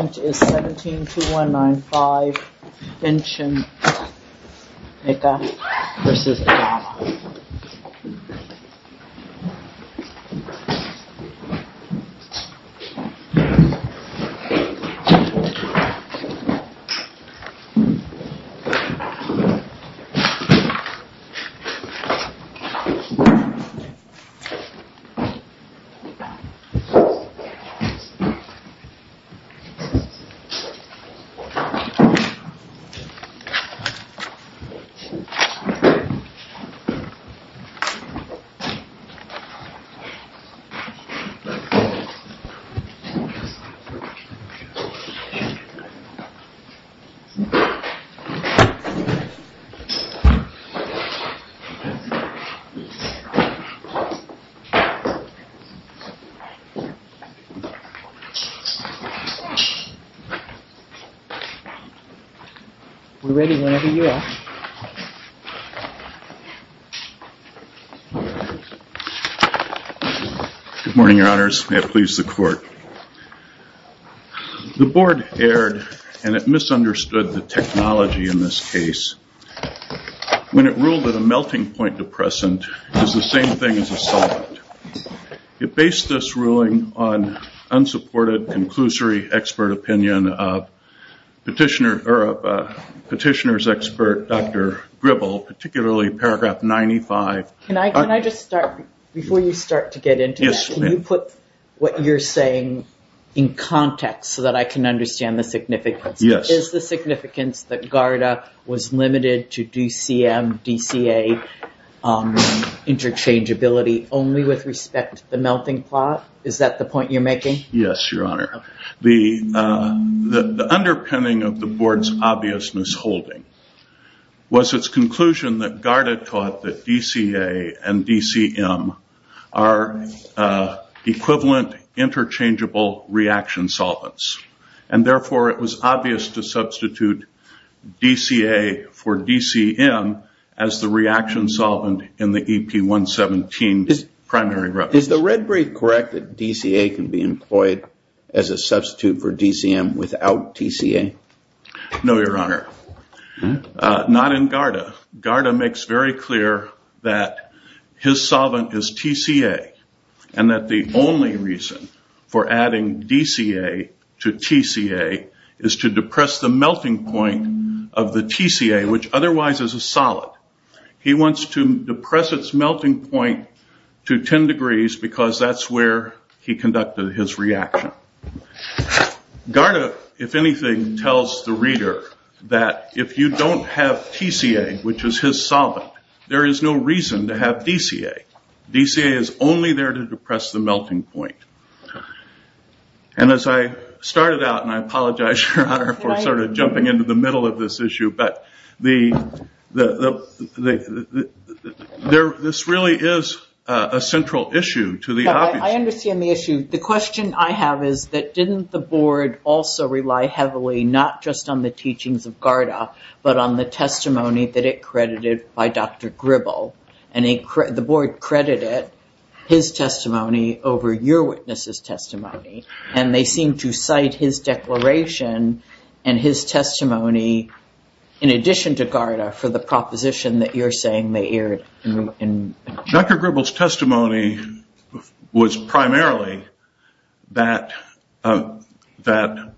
which is 17,2195 inch in Mecca versus Panama. Good morning, your honors. May it please the court. The board erred and it misunderstood the technology in this case. When it ruled that a melting point depressant is the same thing as a solvent, it based this ruling on unsupported conclusory expert opinion of petitioner's expert, Dr. Gribble, particularly paragraph 95. Can I just start, before you start to get into this, can you put what you're saying in context so that I can understand the significance? Yes. Is the significance that GARDA was limited to DCM, DCA interchangeability only with respect to the melting plot? Is that the point you're The underpinning of the board's obvious misholding was its conclusion that GARDA taught that DCA and DCM are equivalent interchangeable reaction solvents and therefore it was obvious to substitute DCA for DCM as the reaction solvent in the EP117 primary reference. Is the red brief correct that DCA can be employed as a substitute for DCM without TCA? No, your honor. Not in GARDA. GARDA makes very clear that his solvent is TCA and that the only reason for adding DCA to TCA is to depress the melting point of the TCA, which is because that's where he conducted his reaction. GARDA, if anything, tells the reader that if you don't have TCA, which is his solvent, there is no reason to have DCA. DCA is only there to depress the melting point. As I started out, and I apologize your honor for jumping into the middle of this issue, but this really is a central issue to the obvious. I understand the issue. The question I have is that didn't the board also rely heavily not just on the teachings of GARDA, but on the testimony that it credited by Dr. Gribble. The board credited his testimony over your witness's testimony. They seem to cite his declaration and his testimony, in addition to GARDA, for the proposition that you're saying they erred. Dr. Gribble's testimony was primarily that GARDA's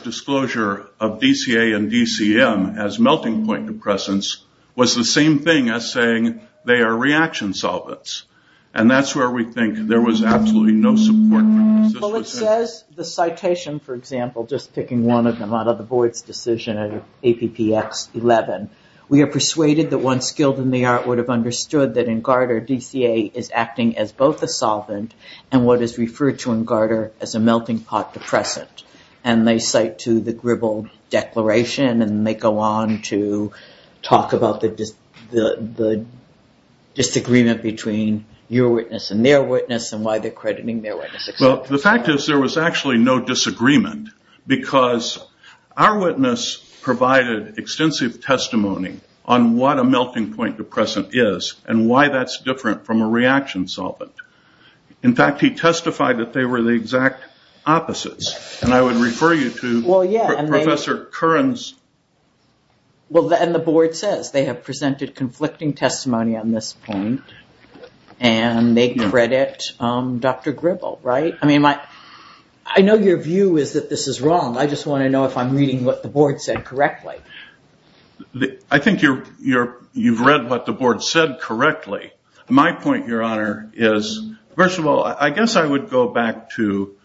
disclosure of DCA and DCM as melting point depressants was the same thing as saying they are reaction solvents. That's where we think there was absolutely no support for the citation, for example, just picking one of them out of the board's decision of APPX11. We are persuaded that one skilled in the art would have understood that in GARDA, DCA is acting as both a solvent and what is referred to in GARDA as a melting pot depressant. They cite to the Gribble declaration and they go on to talk about the disagreement between your witness and their witness and why they're crediting their witness. The fact is there was actually no disagreement because our witness provided extensive testimony on what a melting point depressant is and why that's different from a reaction solvent. In fact, he testified that they were the exact opposites. I would refer you to Professor Curran's... The board says they have presented conflicting testimony on this point and they credit Dr. Gribble, right? I know your view is that this is wrong. I just want to know if I'm reading what the board said correctly. I think you've read what the board said correctly. My point, your honor, is first of all, I guess I would go back to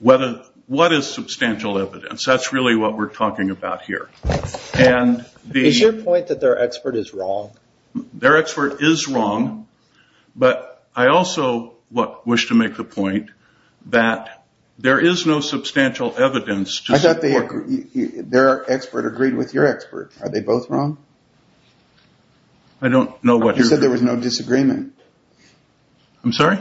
what is substantial evidence? That's really what we're talking about here. Is your point that their expert is wrong? Their expert is wrong, but I also wish to make the point that there is no substantial evidence... I thought their expert agreed with your expert. Are they both wrong? I don't know what... You said there was no disagreement. I'm sorry?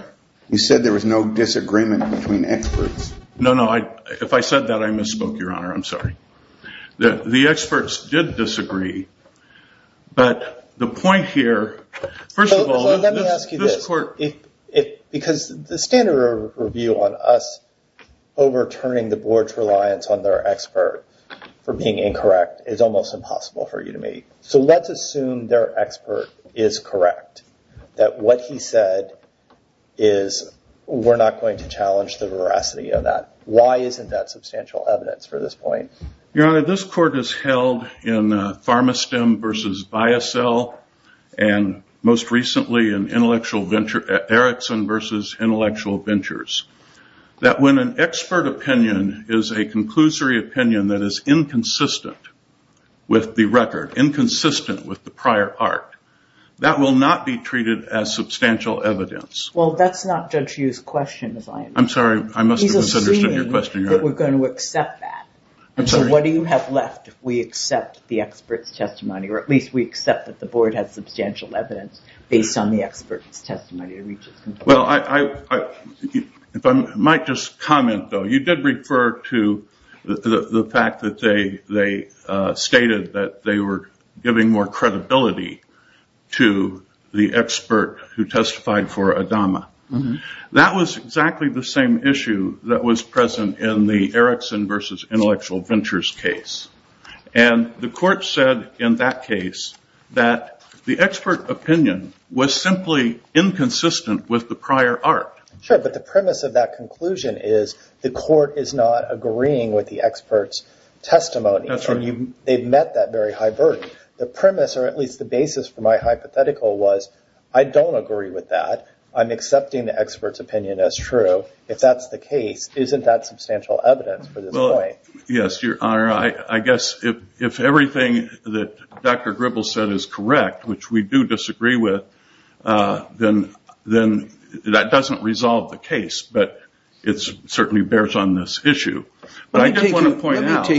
You said there was no disagreement between experts. No, no. If I said that, I misspoke, your honor. I'm sorry. The experts did disagree, but the point here, first of all... Let me ask you this, because the standard review on us overturning the board's reliance on their expert for being incorrect is almost impossible for you to make. Let's assume their expert is correct. That what he said is we're not going to challenge the veracity of that. Why isn't that substantial evidence for this point? Your honor, this court has held in Pharmastem versus Biasel and most recently in Erickson versus Intellectual Ventures that when an expert opinion is a conclusory opinion that is inconsistent with the record, inconsistent with the prior art, that will not be treated as substantial evidence. Well, that's not Judge Sweeney that we're going to accept that. What do you have left if we accept the expert's testimony, or at least we accept that the board has substantial evidence based on the expert's testimony to reach its conclusion? If I might just comment though, you did refer to the fact that they stated that they were giving more credibility to the expert who testified for was present in the Erickson versus Intellectual Ventures case. The court said in that case that the expert opinion was simply inconsistent with the prior art. Sure, but the premise of that conclusion is the court is not agreeing with the expert's testimony. They've met that very high burden. The premise, or at least the basis for my hypothetical was I don't agree with that. I'm accepting the expert's opinion as true. If that's the case, isn't that substantial evidence for this point? Yes, your honor. I guess if everything that Dr. Gribble said is correct, which we do disagree with, then that doesn't resolve the case, but it certainly bears on this issue. But I did want to point out. Let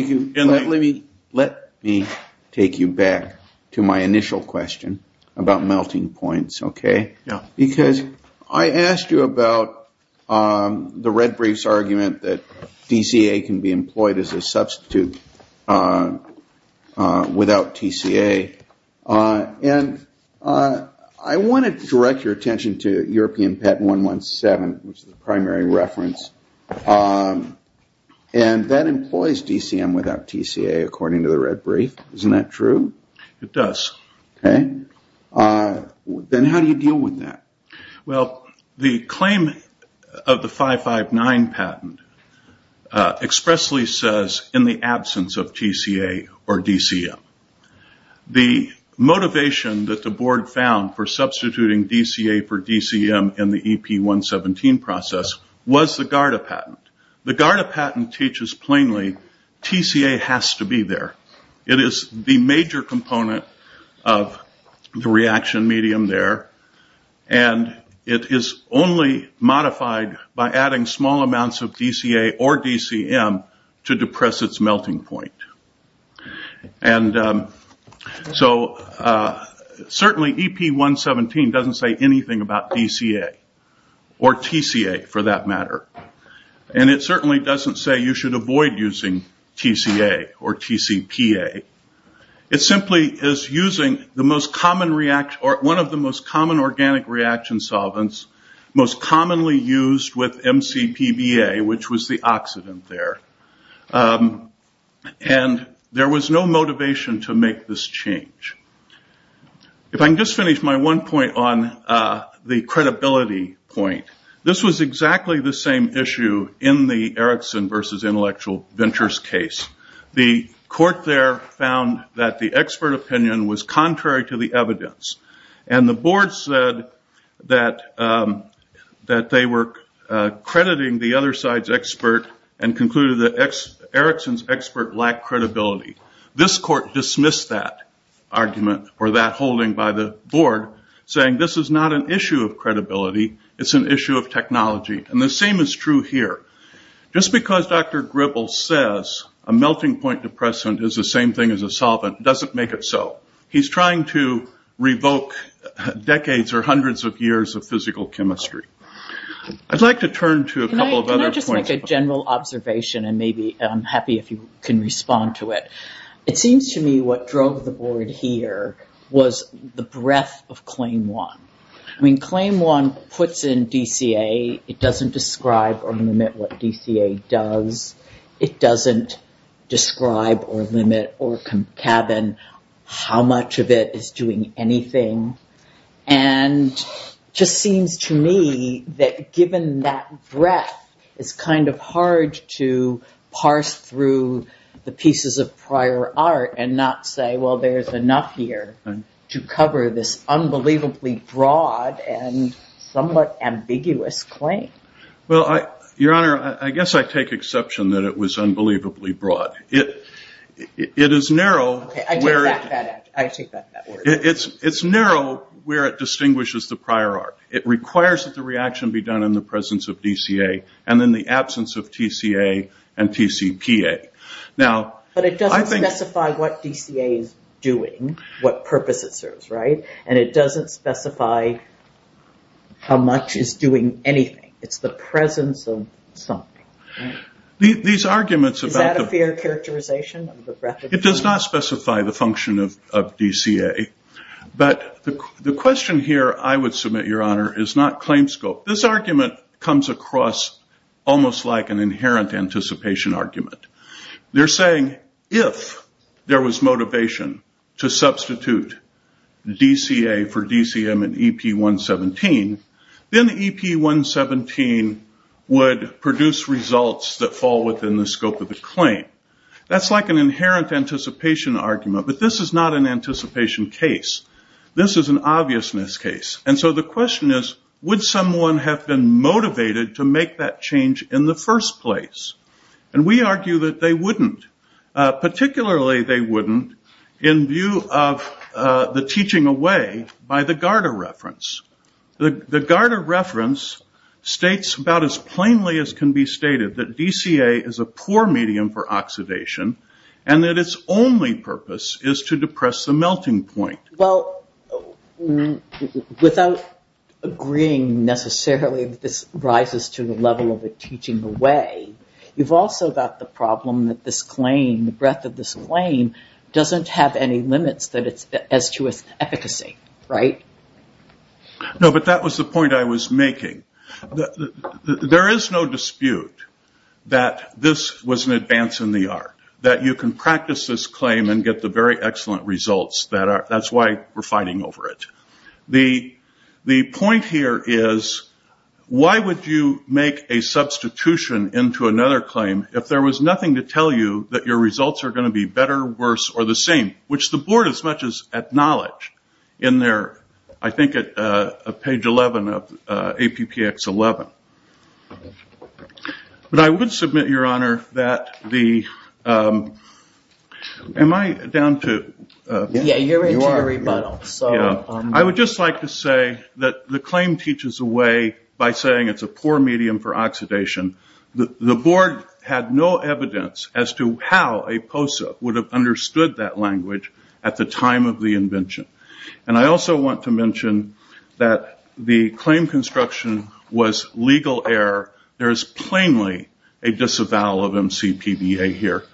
me take you back to my initial question about melting points. Because I asked you about the red brief's argument that DCA can be employed as a substitute without TCA. I wanted to direct your attention to European Pet 117, which is the primary reference. That employs DCM without TCA according to the red brief. Isn't that true? It does. Then how do you deal with that? The claim of the 559 patent expressly says in the absence of TCA or DCM. The motivation that the board found for substituting DCA for DCM in the EP 117 process was the GARDA patent. The GARDA patent teaches plainly, TCA has to be there. It is the major component of the reaction medium there. It is only modified by adding small amounts of DCA or DCM to depress its melting point. Certainly EP 117 doesn't say anything about you should avoid using TCA or TCPA. It simply is using one of the most common organic reaction solvents most commonly used with MCPBA, which was the oxidant there. There was no motivation to make this change. If I can just finish my one point on the credibility point. This was exactly the same issue in the Erikson versus Intellectual Ventures case. The court there found that the expert opinion was contrary to the evidence. The board said that they were crediting the other side's expert and concluded that Erikson's expert lacked credibility. This court dismissed that argument or that holding by the board saying this is not an issue of credibility, it's an issue of technology. The same is true here. Just because Dr. Gribble says a melting point depressant is the same thing as a solvent doesn't make it so. He's trying to revoke decades or hundreds of years of physical chemistry. I'd like to turn to a couple of other points. Can I just make a general observation and maybe I'm happy if you can respond to it. It seems to me what drove the board here was the breadth of Claim 1. Claim 1 puts in DCA. It doesn't describe or limit what DCA does. It doesn't describe or limit or concatenate how much of it is doing anything. It just seems to me that given that breadth, it's a prior art and not say there's enough here to cover this unbelievably broad and somewhat ambiguous claim. Your Honor, I guess I take exception that it was unbelievably broad. It is narrow where it distinguishes the prior art. It requires that the reaction be done in the presence of DCA and in the absence of TCA and TCPA. But it doesn't specify what DCA is doing, what purpose it serves. It doesn't specify how much is doing anything. It's the presence of something. These arguments about the- Is that a fair characterization of the breadth of the claim? It does not specify the function of DCA. The question here I would submit, Your Honor, is not claim scope. This argument comes across almost like an inherent anticipation argument. They're saying if there was motivation to substitute DCA for DCM in EP117, then EP117 would produce results that fall within the scope of the claim. That's like an inherent anticipation argument, but this is not an anticipation case. This is an obviousness case. The question is, would someone have been motivated to make that change in the first place? We argue that they wouldn't, particularly they wouldn't in view of the teaching away by the Garda reference. The Garda reference states about as plainly as can be stated that DCA is a poor medium for oxidation and that its only purpose is to depress the melting point. Well, without agreeing necessarily that this rises to the level of a teaching away, you've also got the problem that this claim, the breadth of this claim, doesn't have any limits that it's as to its efficacy, right? No, but that was the point I was making. There is no dispute that this was an advance in the art, that you can practice this claim and get the very excellent results. That's why we're fighting over it. The point here is, why would you make a substitution into another claim if there was nothing to tell you that your results are going to be better, worse, or the same, which the board as much as acknowledge in their, I think at page 11 of APPX11. But I would submit, your honor, that the, am I down to? Yeah, you're into the rebuttal. I would just like to say that the claim teaches away by saying it's a poor medium for oxidation. The board had no evidence as to how a POSA would have understood that language at the time of the invention. I also want to mention that the claim construction was legal error. There is plainly a disavowal of MCPBA here.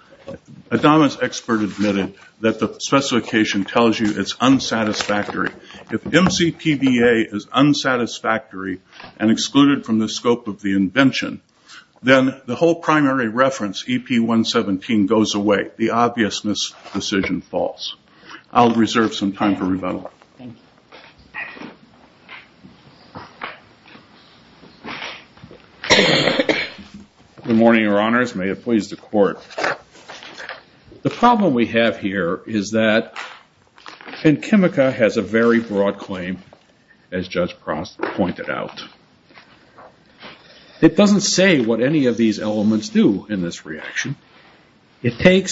Adama's expert admitted that the specification tells you it's unsatisfactory. If MCPBA is unsatisfactory and excluded from the scope of the invention, then the whole thing is a disavowal of MCPBA. I'll reserve some time for rebuttal. Good morning, your honors. May it please the court. The problem we have here is that, and Chemica has a very broad claim, as Judge Prost pointed out. It doesn't say what any of these are. It's a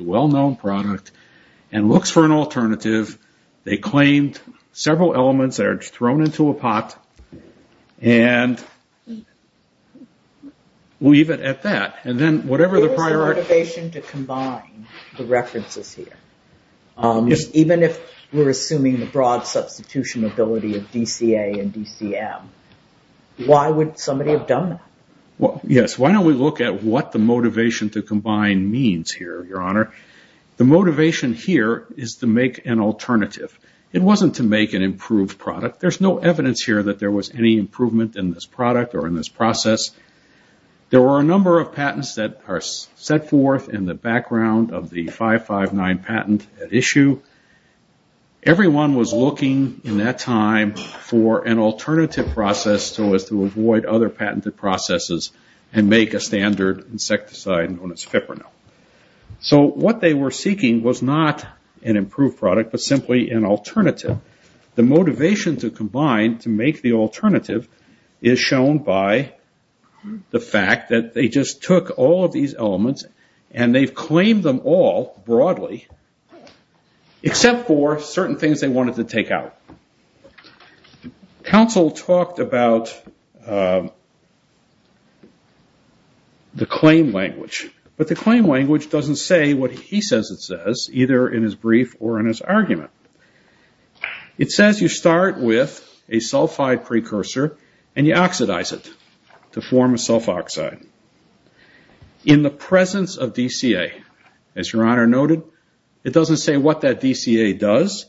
well-known product and looks for an alternative. They claimed several elements that are thrown into a pot. We'll leave it at that. There's a motivation to combine the references here. Even if we're assuming the broad substitution ability of DCA and DCM, why would somebody have done that? Why don't we look at what the motivation to combine means here, your honor? The motivation here is to make an alternative. It wasn't to make an improved product. There's no evidence here that there was any improvement in this product or in this process. There were a number of patents that are set forth in the background of the 559 patent at issue. Everyone was looking in that time for an alternative process so as to avoid other patented processes and make a standard insecticide known as Fipronil. What they were seeking was not an improved product, but simply an alternative. The motivation to combine to make the alternative is shown by the fact that they just took all of these elements and they've claimed them all, broadly, except for certain things they wanted to take out. Counsel talked about the claim language, but the claim language doesn't say what he says it says, either in his brief or in his argument. It says you start with a sulfide precursor and you oxidize it to form a sulfoxide. In the presence of DCA, as your honor noted, it doesn't say what that DCA does.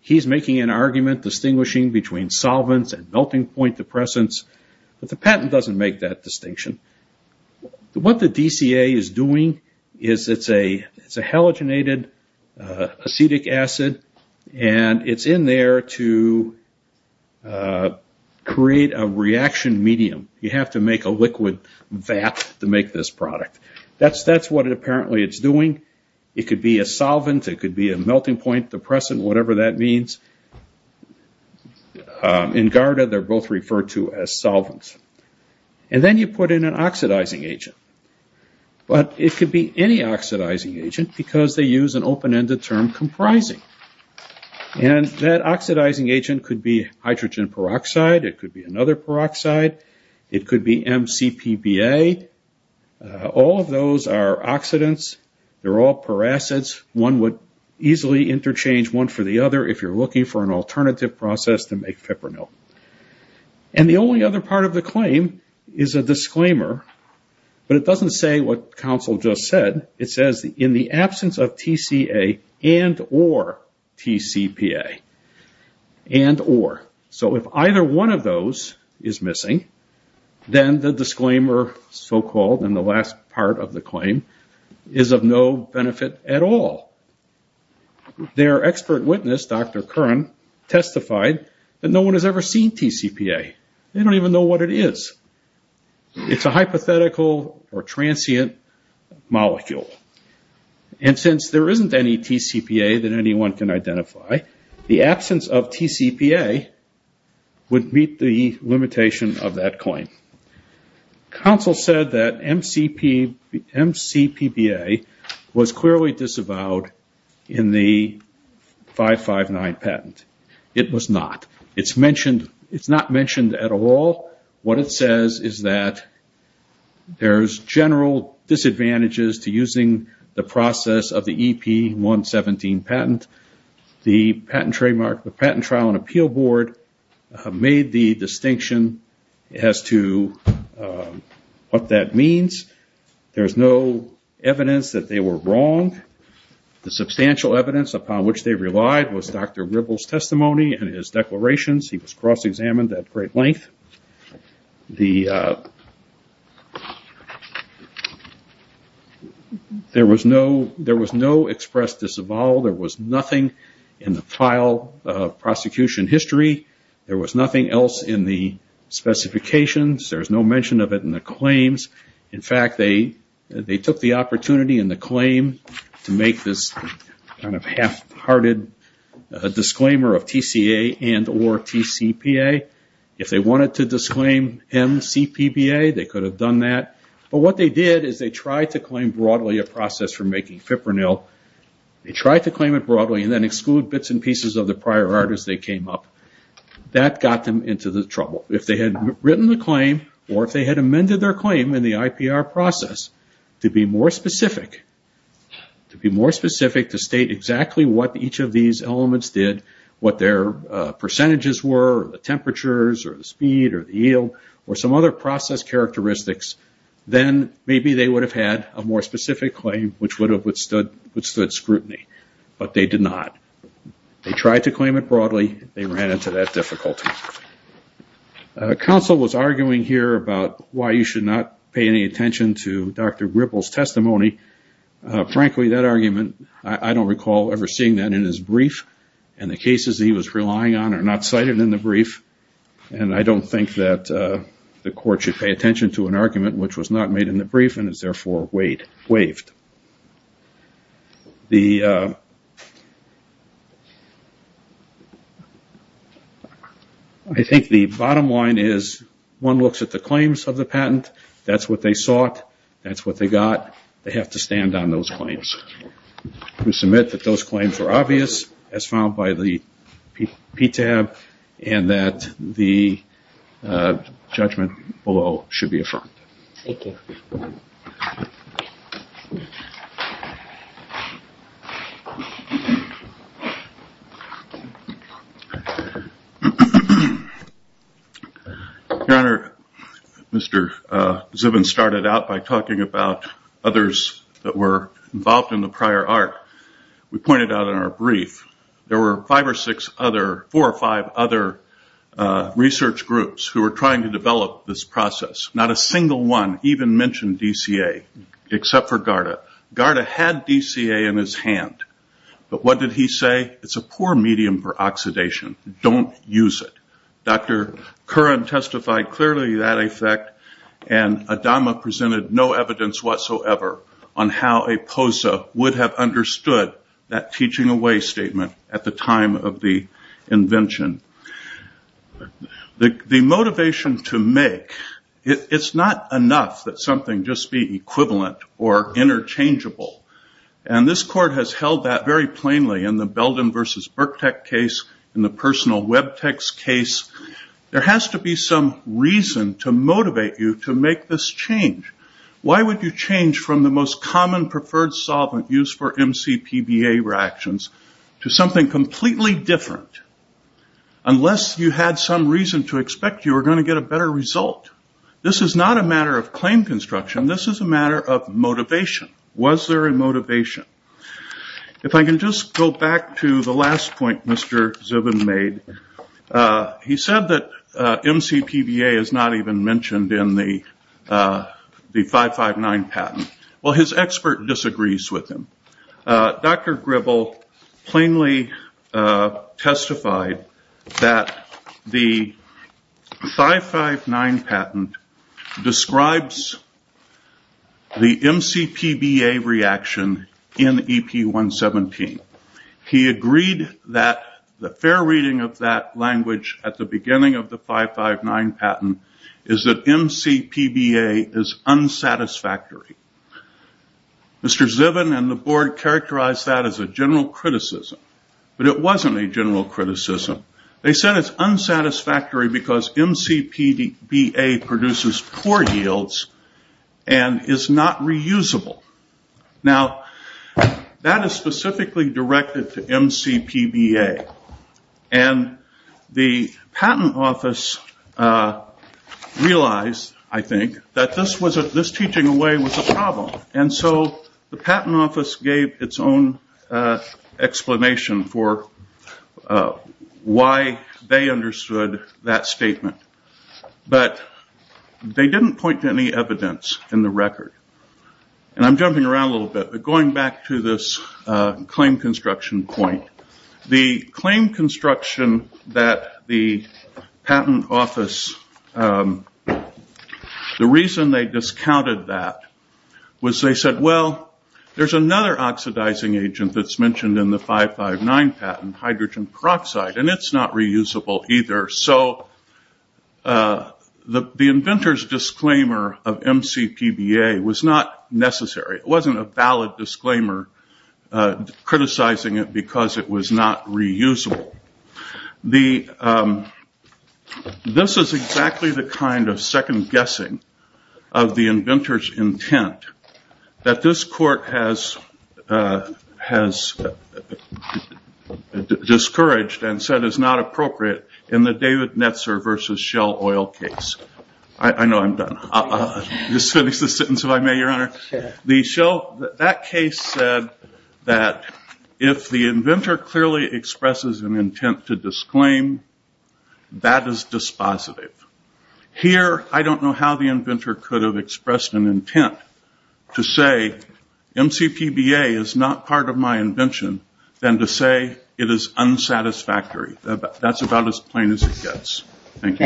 He's making an argument distinguishing between solvents and melting point depressants, but the patent doesn't make that distinction. What the DCA is doing is it's a halogenated acetic acid and it's in there to create a reaction medium. You have to make a liquid vat to make this product. That's what apparently it's doing. It could be a solvent, it could be a melting point depressant, whatever that means. In Garda, they're both referred to as solvents. Then you put in an oxidizing agent, but it could be any oxidizing agent because they use an open-ended term, comprising. That oxidizing agent could be hydrogen peroxide, it could be MCPBA. All of those are oxidants, they're all peracids. One would easily interchange one for the other if you're looking for an alternative process to make Fipronil. The only other part of the claim is a disclaimer, but it doesn't say what counsel just said. It says in the absence of TCA and or TCPA. If either one of those is missing, then you disclaimer, so-called, in the last part of the claim is of no benefit at all. Their expert witness, Dr. Curran, testified that no one has ever seen TCPA. They don't even know what it is. It's a hypothetical or transient molecule. Since there isn't any TCPA that anyone can identify, the absence of TCPA would meet the limitation of that claim. Counsel said that MCPBA was clearly disavowed in the 559 patent. It was not. It's not mentioned at all. What it says is that there's general disadvantages to using the process of the EP117 patent. The patent trademark, the Patent Trial and Appeal Board made the distinction as to what that means. There's no evidence that they were wrong. The substantial evidence upon which they relied was Dr. Ribble's testimony and his declarations. He was cross-examined at great length. There was no expressed disavowal. There was nothing in the file of prosecution history. There was nothing else in the specifications. There's no mention of it in the claims. In fact, they took the opportunity in the claim to make this kind of half-hearted disclaimer of TCA and or TCPA. If they wanted to disclaim MCPBA, they could have done that. What they did is they tried to claim broadly a process for making Fipronil. They tried to claim it broadly. That got them into the trouble. If they had written the claim or if they had amended their claim in the IPR process to be more specific, to state exactly what each of these elements did, what their percentages were, the temperatures or the speed or the yield or some other process characteristics, then maybe they would have had a more specific claim which would have withstood scrutiny. But they did not. They tried to claim it broadly. They ran into that difficulty. Counsel was arguing here about why you should not pay any attention to Dr. Gripple's testimony. Frankly, that argument, I don't recall ever seeing that in his brief. The cases he was relying on are not cited in the brief. I don't think that the court should pay attention to an argument which was not made in the brief and is therefore waived. I think the bottom line is one looks at the claims of the patent. That's what they sought. That's what they got. They have to stand on those claims. We submit that those claims are obvious as found by the PTAB and that the judgment below should be affirmed. Thank you. Your Honor, Mr. Zubin started out by talking about others that were involved in the prior art. We pointed out in our brief, there were four or five other research groups who were trying to develop this process. Not a single one even mentioned DCA except for Garda. Garda had DCA in his hand. But what did he say? It's a poor medium for oxidation. Don't use it. Dr. Curran testified clearly that effect. Adama presented no evidence whatsoever on how a POSA would have understood that teaching away statement at the time of the invention. The motivation to make, it's not enough that something just be equivalent or interchangeable. This court has held that very plainly in the Belden versus Burktec case, in the personal Webtex case. There has to be some reason to motivate you to make this change. Why would you change from the most common preferred solvent used for MCPBA reactions to something completely different? Unless you had some reason to expect you were going to get a better result. This is not a matter of claim construction. This is a matter of motivation. Was there a motivation? If I can just go back to the last point Mr. Zubin made. He said that MCPBA is not even mentioned in the 559 patent. Well, his expert disagrees with him. Dr. Gribble plainly said or testified that the 559 patent describes the MCPBA reaction in EP117. He agreed that the fair reading of that language at the beginning of the 559 patent is that MCPBA is unsatisfactory. Mr. Zubin and the board characterized that as a general criticism. It wasn't a general criticism. They said it's unsatisfactory because MCPBA produces poor yields and is not reusable. That is specifically directed to MCPBA. The patent office realized, I think, that this teaching away was a problem. The patent office gave its own explanation for why they understood that statement. They didn't point to any evidence in the record. I'm jumping around a little bit, but going back to this claim construction point. The claim construction that the patent office, the reason they discounted that was they said, well, there's another oxidizing agent that's mentioned in the 559 patent, hydrogen peroxide, and it's not reusable either. The inventor's disclaimer of MCPBA was not necessary. It wasn't a valid disclaimer criticizing it because it was not reusable. This is exactly the kind of second guessing of the inventor's intent that this court has discouraged and said is not appropriate in the David Netzer versus Shell Oil case. I know I'm done. I'll just finish this sentence if I may, Your Honor. That case said that if the inventor clearly expresses an intent to disclaim, that is dispositive. Here, I don't know how the inventor could have expressed an intent to say MCPBA is not part of my invention than to say it is unsatisfactory. That's about as plain as it gets. Thank you, Your Honor.